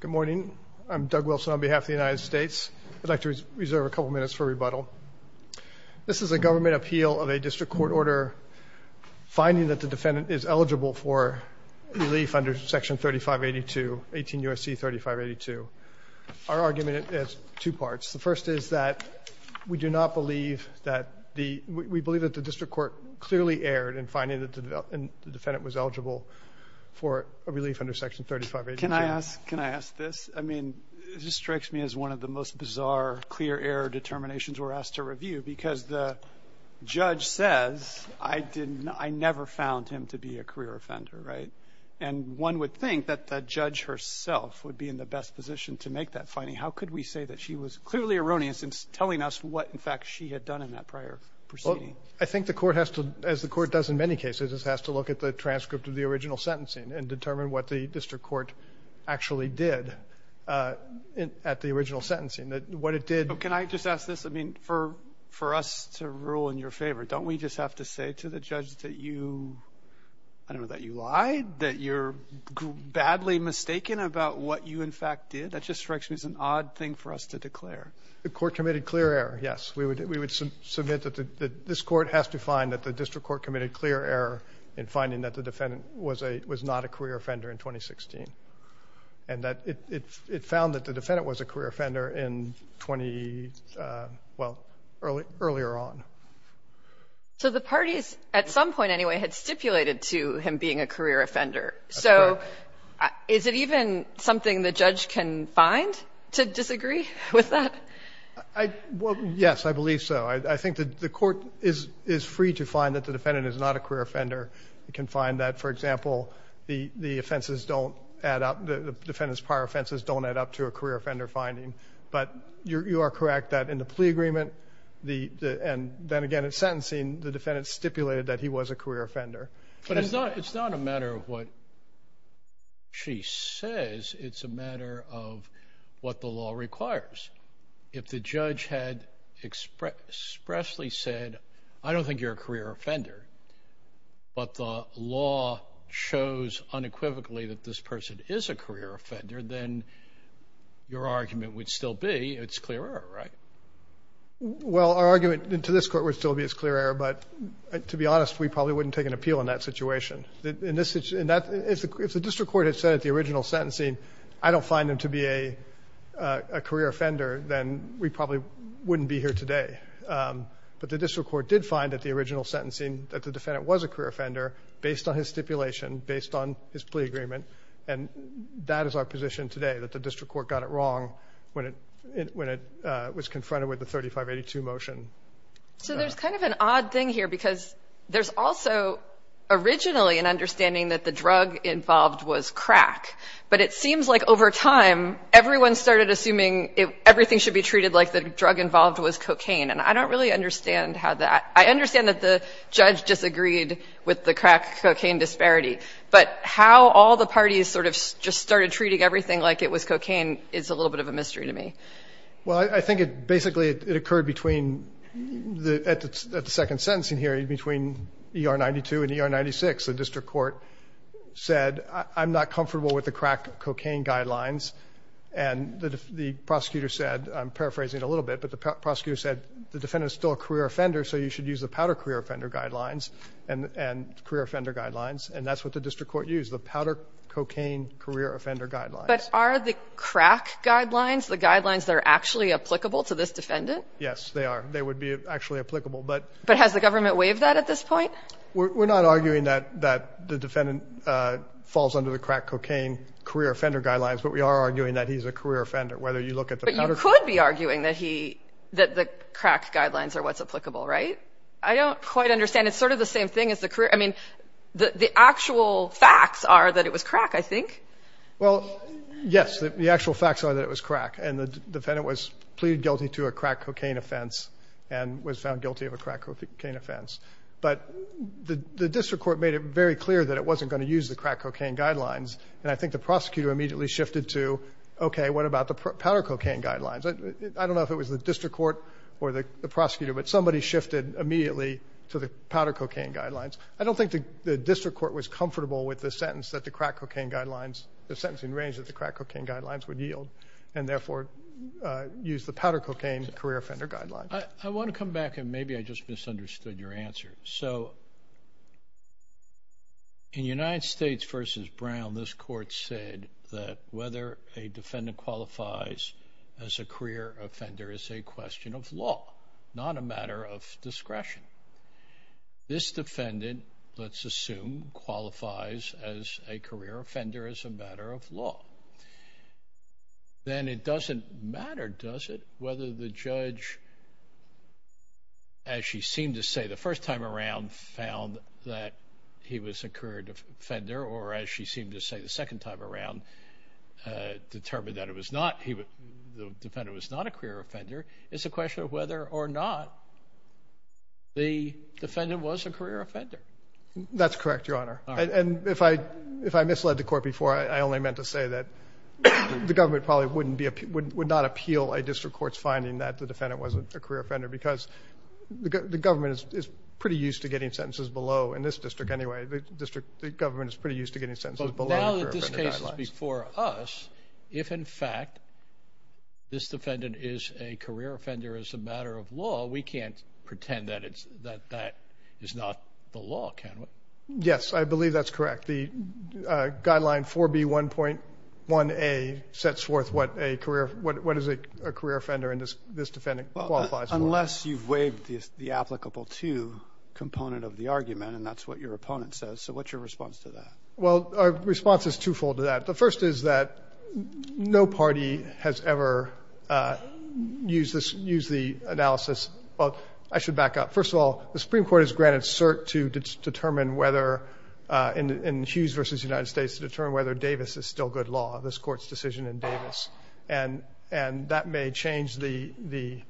Good morning. I'm Doug Wilson on behalf of the United States. I'd like to reserve a couple minutes for rebuttal. This is a government appeal of a district court order finding that the defendant is eligible for relief under Section 3582, 18 U.S.C. 3582. Our argument is two parts. The first is that we do not believe that the, we believe that the district court clearly erred in finding that the defendant was eligible for relief under Section 3582. Can I ask, can I ask this? I mean, this strikes me as one of the most bizarre clear error determinations we're asked to review because the judge says I didn't, I never found him to be a career offender, right? And one would think that the judge herself would be in the best position to make that finding. How could we say that she was clearly erroneous in telling us what, in fact, she had done in that prior proceeding? I think the court has to, as the court does in many cases, it has to look at the transcript of the original sentencing and determine what the district court actually did at the original sentencing, that what it did. But can I just ask this? I mean, for, for us to rule in your favor, don't we just have to say to the judge that you, I don't know, that you lied, that you're badly mistaken about what you, in fact, did? That just strikes me as an odd thing for us to declare. The court committed clear error, yes. We would, we would submit that this court has to find that the district court committed clear error in finding that the defendant was a, was not a career offender in 2016, and that it found that the defendant was a career offender in 20, well, earlier on. So the parties, at some point anyway, had stipulated to him being a career offender. So is it even something the judge can find to disagree with that? I, well, yes, I believe so. I, I think that the court is, is free to find that the defendant is not a career offender. It can find that, for example, the, the offenses don't add up, the defendant's prior offenses don't add up to a career offender finding. But you, you are correct that in the plea agreement, the, the, and then again in sentencing, the defendant stipulated that he was a career offender. But it's not, it's not a matter of what she says. It's a matter of what the law requires. If the judge had expressed, expressly said, I don't think you're a career offender, but the law shows unequivocally that this person is a career offender, then your argument would still be it's clear error, right? Well, our argument to this court would still be it's clear error, but to be honest, we probably wouldn't take an appeal in that situation. In this, in that, if the, if the district court had said at the original sentencing, I don't find him to be a, a career offender, then we probably wouldn't be here today. But the district court did find at the original sentencing that the defendant was a career offender based on his stipulation, based on his plea agreement. And that is our position today, that the district court got it wrong when it, when it was confronted with the 3582 motion. So there's kind of an odd thing here because there's also originally an understanding that the drug involved was crack. But it seems like over time, everyone started assuming everything should be treated like the drug involved was cocaine. And I don't really understand how that, I understand that the judge disagreed with the crack cocaine disparity. But how all the parties sort of just started treating everything like it was cocaine is a little bit of a mystery to me. Well, I think it basically, it occurred between the, at the second sentencing here, between ER 92 and ER 96. The district court said, I'm not comfortable with the crack cocaine guidelines. And the prosecutor said, I'm paraphrasing it a little bit, but the prosecutor said, the defendant is still a career offender, so you should use the powder career offender guidelines and career offender guidelines. And that's what the district court used, the powder cocaine career offender guidelines. But are the crack guidelines, the guidelines that are actually applicable to this defendant? Yes, they are. They would be actually applicable. But, but has the government waived that at this point? We're not arguing that, that the defendant falls under the crack cocaine career offender guidelines, but we are arguing that he's a career offender, whether you look at the powder cocaine. But you could be arguing that he, that the crack guidelines are what's applicable, right? I don't quite understand. It's sort of the same thing as the career. I mean, the actual facts are that it was crack, I think. Well, yes, the actual facts are that it was crack. And the defendant was pleaded guilty to a crack cocaine offense and was found guilty of a crack cocaine offense. But the district court made it very clear that it wasn't going to use the crack cocaine guidelines. And I think the prosecutor immediately shifted to, okay, what about the powder cocaine guidelines? I don't know if it was the district court or the prosecutor, but somebody shifted immediately to the powder cocaine guidelines. I don't think the district court was comfortable with the sentence that the crack cocaine guidelines, the sentencing range that the crack cocaine guidelines would yield and therefore use the powder cocaine career offender guidelines. I want to come back and maybe I just misunderstood your answer. So in United States versus Brown, this court said that whether a defendant qualifies as a career offender is a question of law, not a matter of discretion. This defendant, let's assume, qualifies as a career offender as a matter of law. Then it doesn't matter, does it, whether the judge, as she seemed to say the first time around, found that he was a career offender or as she seemed to say the second time around, determined that it was not, the defendant was not a career offender. It's a question of whether or not the defendant was a career offender. That's correct, Your Honor. And if I misled the court before, I only meant to say that the government probably wouldn't be, would not appeal a district court's finding that the defendant wasn't a career offender because the government is pretty used to getting sentences below, in this district anyway, the district, the government is pretty used to getting sentences below career offender guidelines. But if this is before us, if, in fact, this defendant is a career offender as a matter of law, we can't pretend that it's, that that is not the law, can we? Yes, I believe that's correct. The guideline 4B1.1a sets forth what a career, what is a career offender and this defendant qualifies for. Unless you've waived the applicable to component of the argument and that's what your opponent says. So what's your response to that? Well, our response is twofold to that. The first is that no party has ever used this, used the analysis. Well, I should back up. First of all, the Supreme Court has granted cert to determine whether, in Hughes v. United States, to determine whether Davis is still good law, this Court's decision in Davis. And that may change the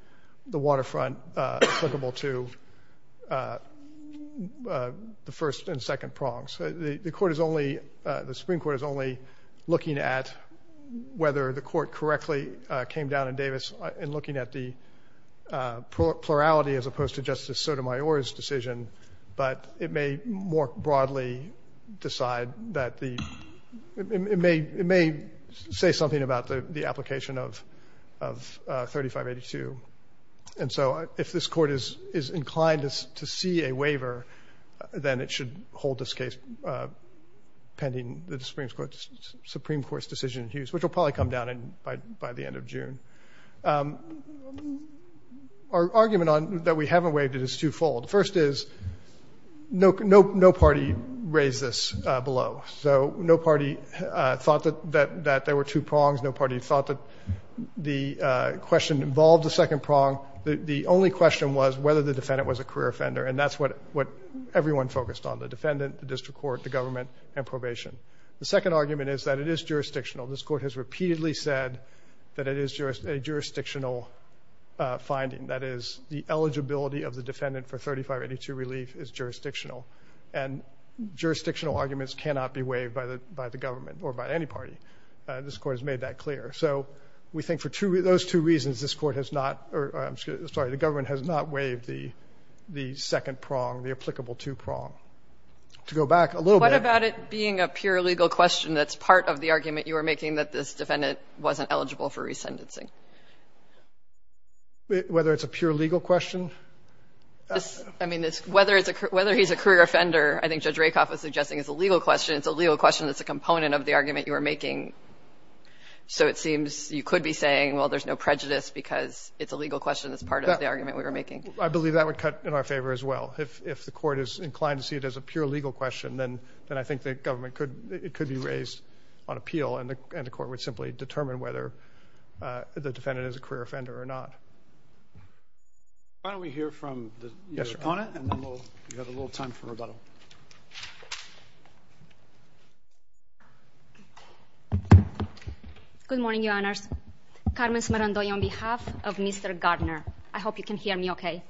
waterfront applicable to the first and second prongs. The Court is only, the Supreme Court is only looking at whether the Court correctly came down in Davis in looking at the plurality as opposed to Justice Sotomayor's decision. But it may more broadly decide that the, it may say something about the application of 3582. And so if this Court is inclined to see a waiver, then it should hold this case pending the Supreme Court's decision in Hughes, which will probably come down by the end of June. Our argument that we haven't waived it is twofold. First is no party raised this below. So no party thought that there were two prongs. No party thought that the question involved the second prong. The only question was whether the defendant was a career offender. And that's what everyone focused on, the defendant, the district court, the government, and probation. The second argument is that it is jurisdictional. This Court has repeatedly said that it is a jurisdictional finding. That is, the eligibility of the defendant for 3582 relief is jurisdictional. And jurisdictional arguments cannot be waived by the government or by any party. This Court has made that clear. So we think for two, those two reasons, this Court has not, or I'm sorry, the government has not waived the second prong, the applicable two prong. To go back a little bit. Kagan. Kagan. What about it being a pure legal question that's part of the argument you were making that this defendant wasn't eligible for resendencing? Whether it's a pure legal question? I mean, whether it's a, whether he's a career offender, I think Judge Rakoff was suggesting it's a legal question. It's a legal question that's a component of the argument you were making. So it seems you could be saying, well, there's no prejudice because it's a legal question that's part of the argument we were making. I believe that would cut in our favor as well. If the Court is inclined to see it as a pure legal question, then I think the government could, it could be raised on appeal and the Court would simply determine whether the defendant is a career offender or not. Why don't we hear from your opponent and then we'll, we have a little time for rebuttal. Good morning, Your Honors. Carmen Smerandoi on behalf of Mr. Gardner. I hope you can hear me okay.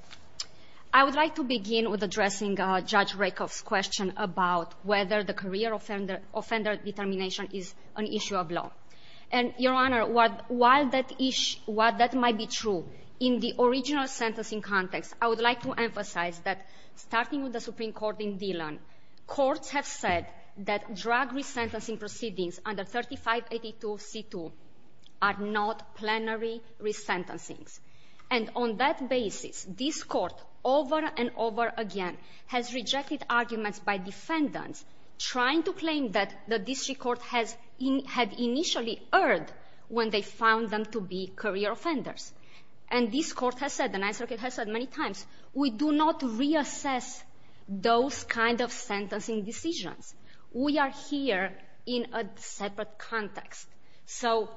I would like to begin with addressing Judge Rakoff's question about whether the career offender, offender determination is an issue of law. And, Your Honor, while that issue, while that might be true, in the original sentencing context, I would like to emphasize that starting with the Supreme Court in Dillon, courts have said that drug resentencing proceedings under 3582 C2 are not plenary resentencings. And on that basis, this Court over and over again has rejected arguments by defendants trying to claim that the district court has, had initially erred when they found them to be career offenders. And this Court has said, and I think it has said many times, we do not reassess those kind of sentencing decisions. We are here in a separate context. So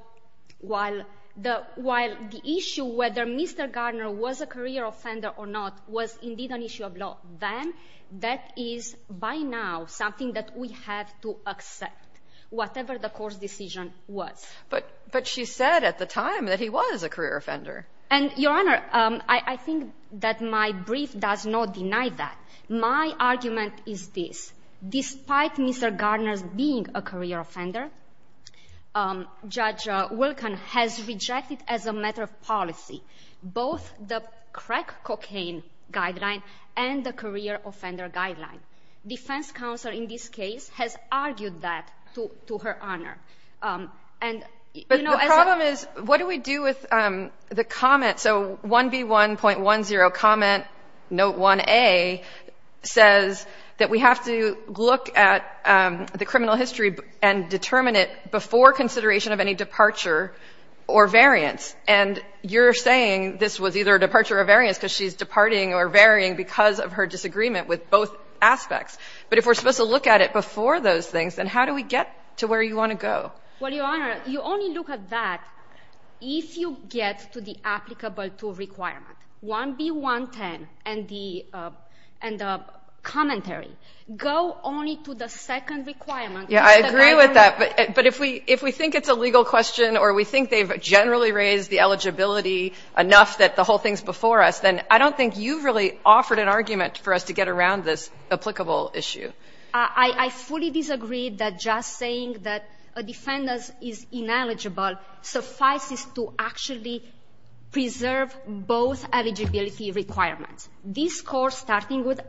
while the, while the issue whether Mr. Gardner was a career offender or not was indeed an issue of law, then that is by now something that we have to accept, whatever the court's decision was. But, but she said at the time that he was a career offender. And, Your Honor, I think that my brief does not deny that. My argument is this. Despite Mr. Gardner's being a career offender, Judge Wilkin has rejected as a matter of policy, both the crack cocaine guideline and the career offender guideline. Defense counsel in this case has argued that to, to her honor. And, you know, as a, But the problem is, what do we do with the comment? So 1B1.10 comment note 1A says that we have to look at the criminal history and determine it before consideration of any departure or variance. And you're saying this was either a departure or variance because she's departing or varying because of her disagreement with both aspects. But if we're supposed to look at it before those things, then how do we get to where you want to go? Well, Your Honor, you only look at that if you get to the applicable tool requirement. 1B1.10 and the, and the commentary go only to the second requirement. Yeah, I agree with that. But, but if we, if we think it's a legal question or we think they've generally raised the eligibility enough that the whole thing's before us, then I don't think you've really offered an argument for us to get around this applicable issue. I, I fully disagree that just saying that a defendant is ineligible suffices to actually preserve both eligibility requirements. This course, starting with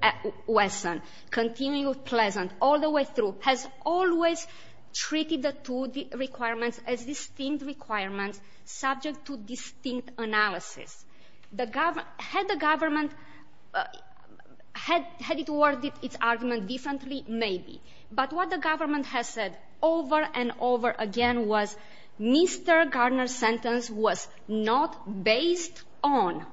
Wesson, continuing with Pleasant, all the way through, has always treated the two requirements as distinct requirements subject to distinct analysis. The government, had the government headed toward its argument differently? Maybe. But what the government has said over and over again was Mr. Garner's sentence was not based on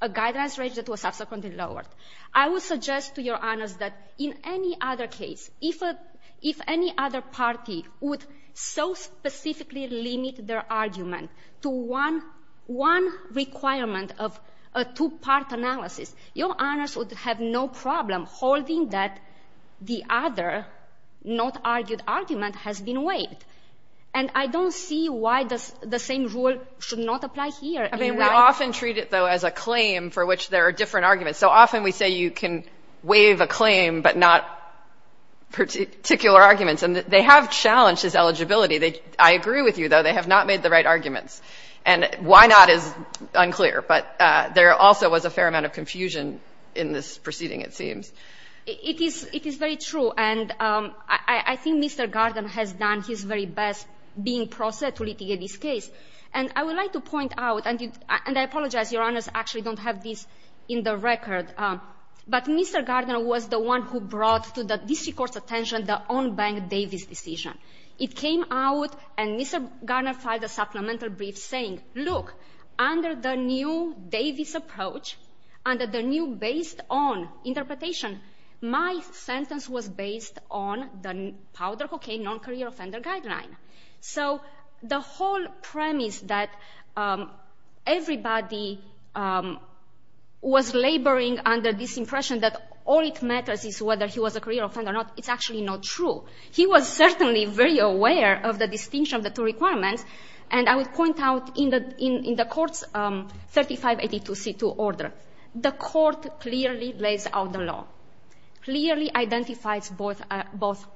a guidance rate that was subsequently lowered. I will suggest to Your Honors that in any other case, if a, if any other party would so specifically limit their argument to one, one requirement of a two-part analysis, Your Honors would have no problem holding that the other not argued argument has been waived. And I don't see why the same rule should not apply here. I mean, we often treat it, though, as a claim for which there are different arguments. So often we say you can waive a claim, but not particular arguments. And they have challenged this eligibility. They, I agree with you, though, they have not made the right arguments. And why not is unclear. But there also was a fair amount of confusion in this proceeding, it seems. It is, it is very true. And I think Mr. Garner has done his very best being process to litigate this case. And I would like to point out, and I apologize, Your Honors actually don't have this in the record, but Mr. Garner was the one who brought to the district court's attention the on-bank Davis decision. It came out and Mr. Garner filed a supplemental brief saying, look, under the new Davis approach, under the new based on interpretation, my sentence was based on the powder cocaine non-career offender guideline. So the whole premise that everybody was laboring under this impression that all that matters is whether he was a career offender or not, it's actually not true. He was certainly very aware of the distinction of the two requirements. And I would point out in the court's 3582C2 order, the court clearly lays out the law, clearly identifies both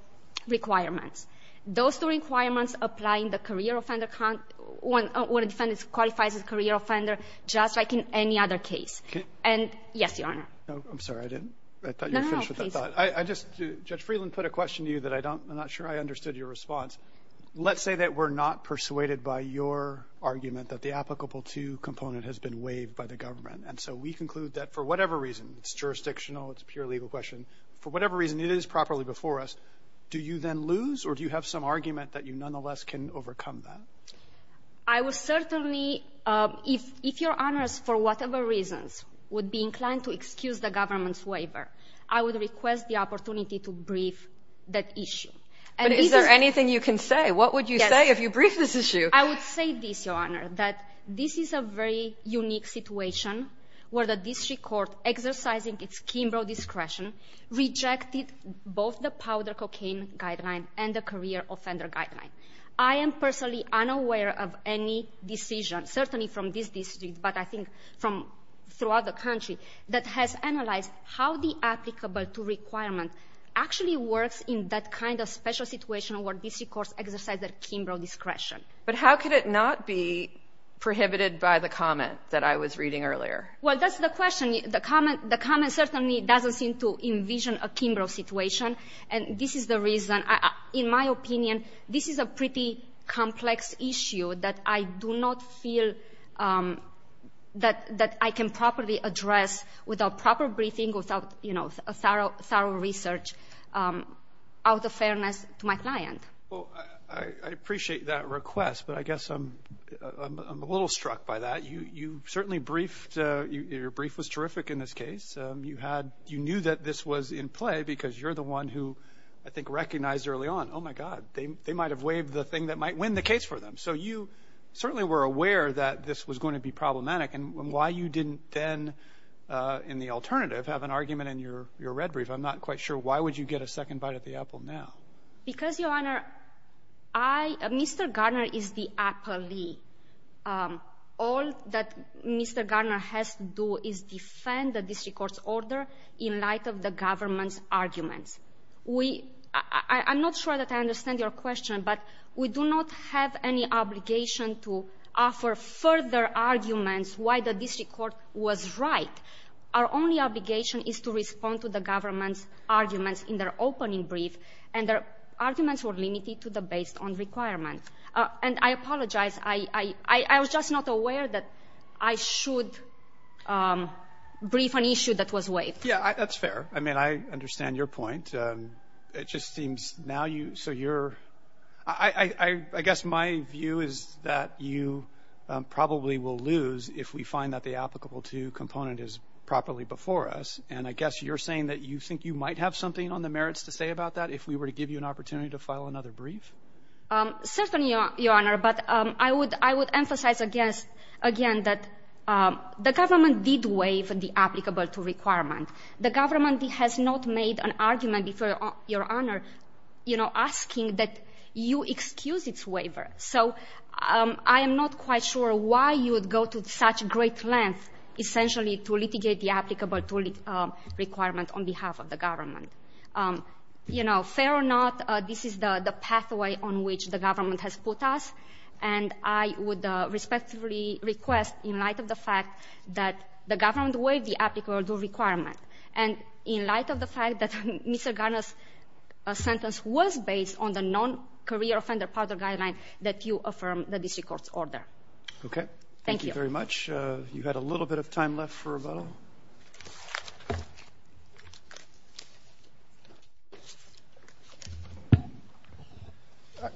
requirements. Those two requirements apply in the career offender, when a defendant qualifies as a career offender, just like in any other case. And yes, Your Honor. No, I'm sorry. I didn't. I thought you were finished with that thought. I just, Judge Freeland put a question to you that I don't, I'm not sure I understood your response. Let's say that we're not persuaded by your argument that the applicable to component has been waived by the government. And so we conclude that for whatever reason, it's jurisdictional, it's a pure legal question. For whatever reason, it is properly before us. Do you then lose or do you have some argument that you nonetheless can overcome that? I would certainly, if Your Honors, for whatever reasons, would be inclined to excuse the government's waiver, I would request the opportunity to brief that issue. But is there anything you can say? What would you say if you brief this issue? I would say this, Your Honor, that this is a very unique situation where the district court, exercising its Kimbrough discretion, rejected both the powder cocaine guideline and the career offender guideline. I am personally unaware of any decision, certainly from this district, but I think from throughout the country, that has analyzed how the applicable to requirement actually works in that kind of special situation where district courts exercise their Kimbrough discretion. But how could it not be prohibited by the comment that I was reading earlier? Well, that's the question. The comment certainly doesn't seem to envision a Kimbrough situation. And this is the reason, in my opinion, this is a pretty complex issue that I do not feel that I can properly address without proper briefing, without, you know, thorough research, out of fairness to my client. Well, I appreciate that request, but I guess I'm a little struck by that. You certainly briefed, your brief was terrific in this case. You had, you knew that this was in play because you're the one who I think recognized early on, oh, my God, they might have waived the thing that might win the case for them. So you certainly were aware that this was going to be problematic. And why you didn't then, in the alternative, have an argument in your red brief, I'm not quite sure. Why would you get a second bite at the apple now? Because, Your Honor, I, Mr. Garner is the appellee. All that Mr. Garner has to do is defend the district court's order in light of the government's arguments. We – I'm not sure that I understand your question, but we do not have any obligation to offer further arguments why the district court was right. Our only obligation is to respond to the government's arguments in their opening brief, and their arguments were limited to the based-on-requirement. And I apologize. I was just not aware that I should brief an issue that was waived. Yeah, that's fair. I mean, I understand your point. It just seems now you – so you're – I guess my view is that you probably will lose if we find that the applicable to component is properly before us. And I guess you're saying that you think you might have something on the merits to say about that if we were to give you an opportunity to file another brief? Certainly, Your Honor. But I would emphasize again that the government did waive the applicable to requirement. The government has not made an argument before Your Honor, you know, asking that you excuse its waiver. So I am not quite sure why you would go to such great lengths, essentially, to litigate the applicable to requirement on behalf of the government. You know, fair or not, this is the pathway on which the government has put us. And I would respectfully request, in light of the government waive the applicable to requirement, and in light of the fact that Mr. Garner's sentence was based on the non-career offender powder guideline that you affirm the district court's order. Okay. Thank you. Thank you very much. You had a little bit of time left for rebuttal.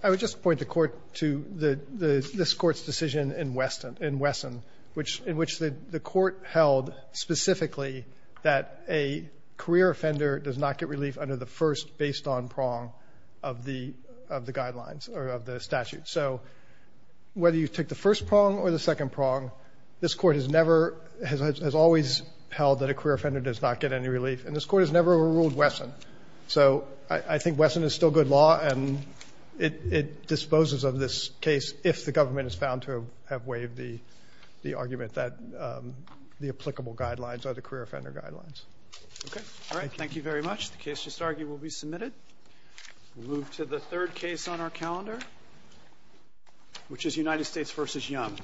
I would just point the Court to the – this Court's decision in Wesson, which – in which it held specifically that a career offender does not get relief under the first based-on prong of the – of the guidelines or of the statute. So whether you take the first prong or the second prong, this Court has never – has always held that a career offender does not get any relief. And this Court has never ruled Wesson. So I think Wesson is still good law, and it disposes of this case if the government is found to have waived the argument that the applicable guidelines are the career offender guidelines. Okay. All right. Thank you very much. The case just argued will be submitted. We'll move to the third case on our calendar, which is United States v. Young.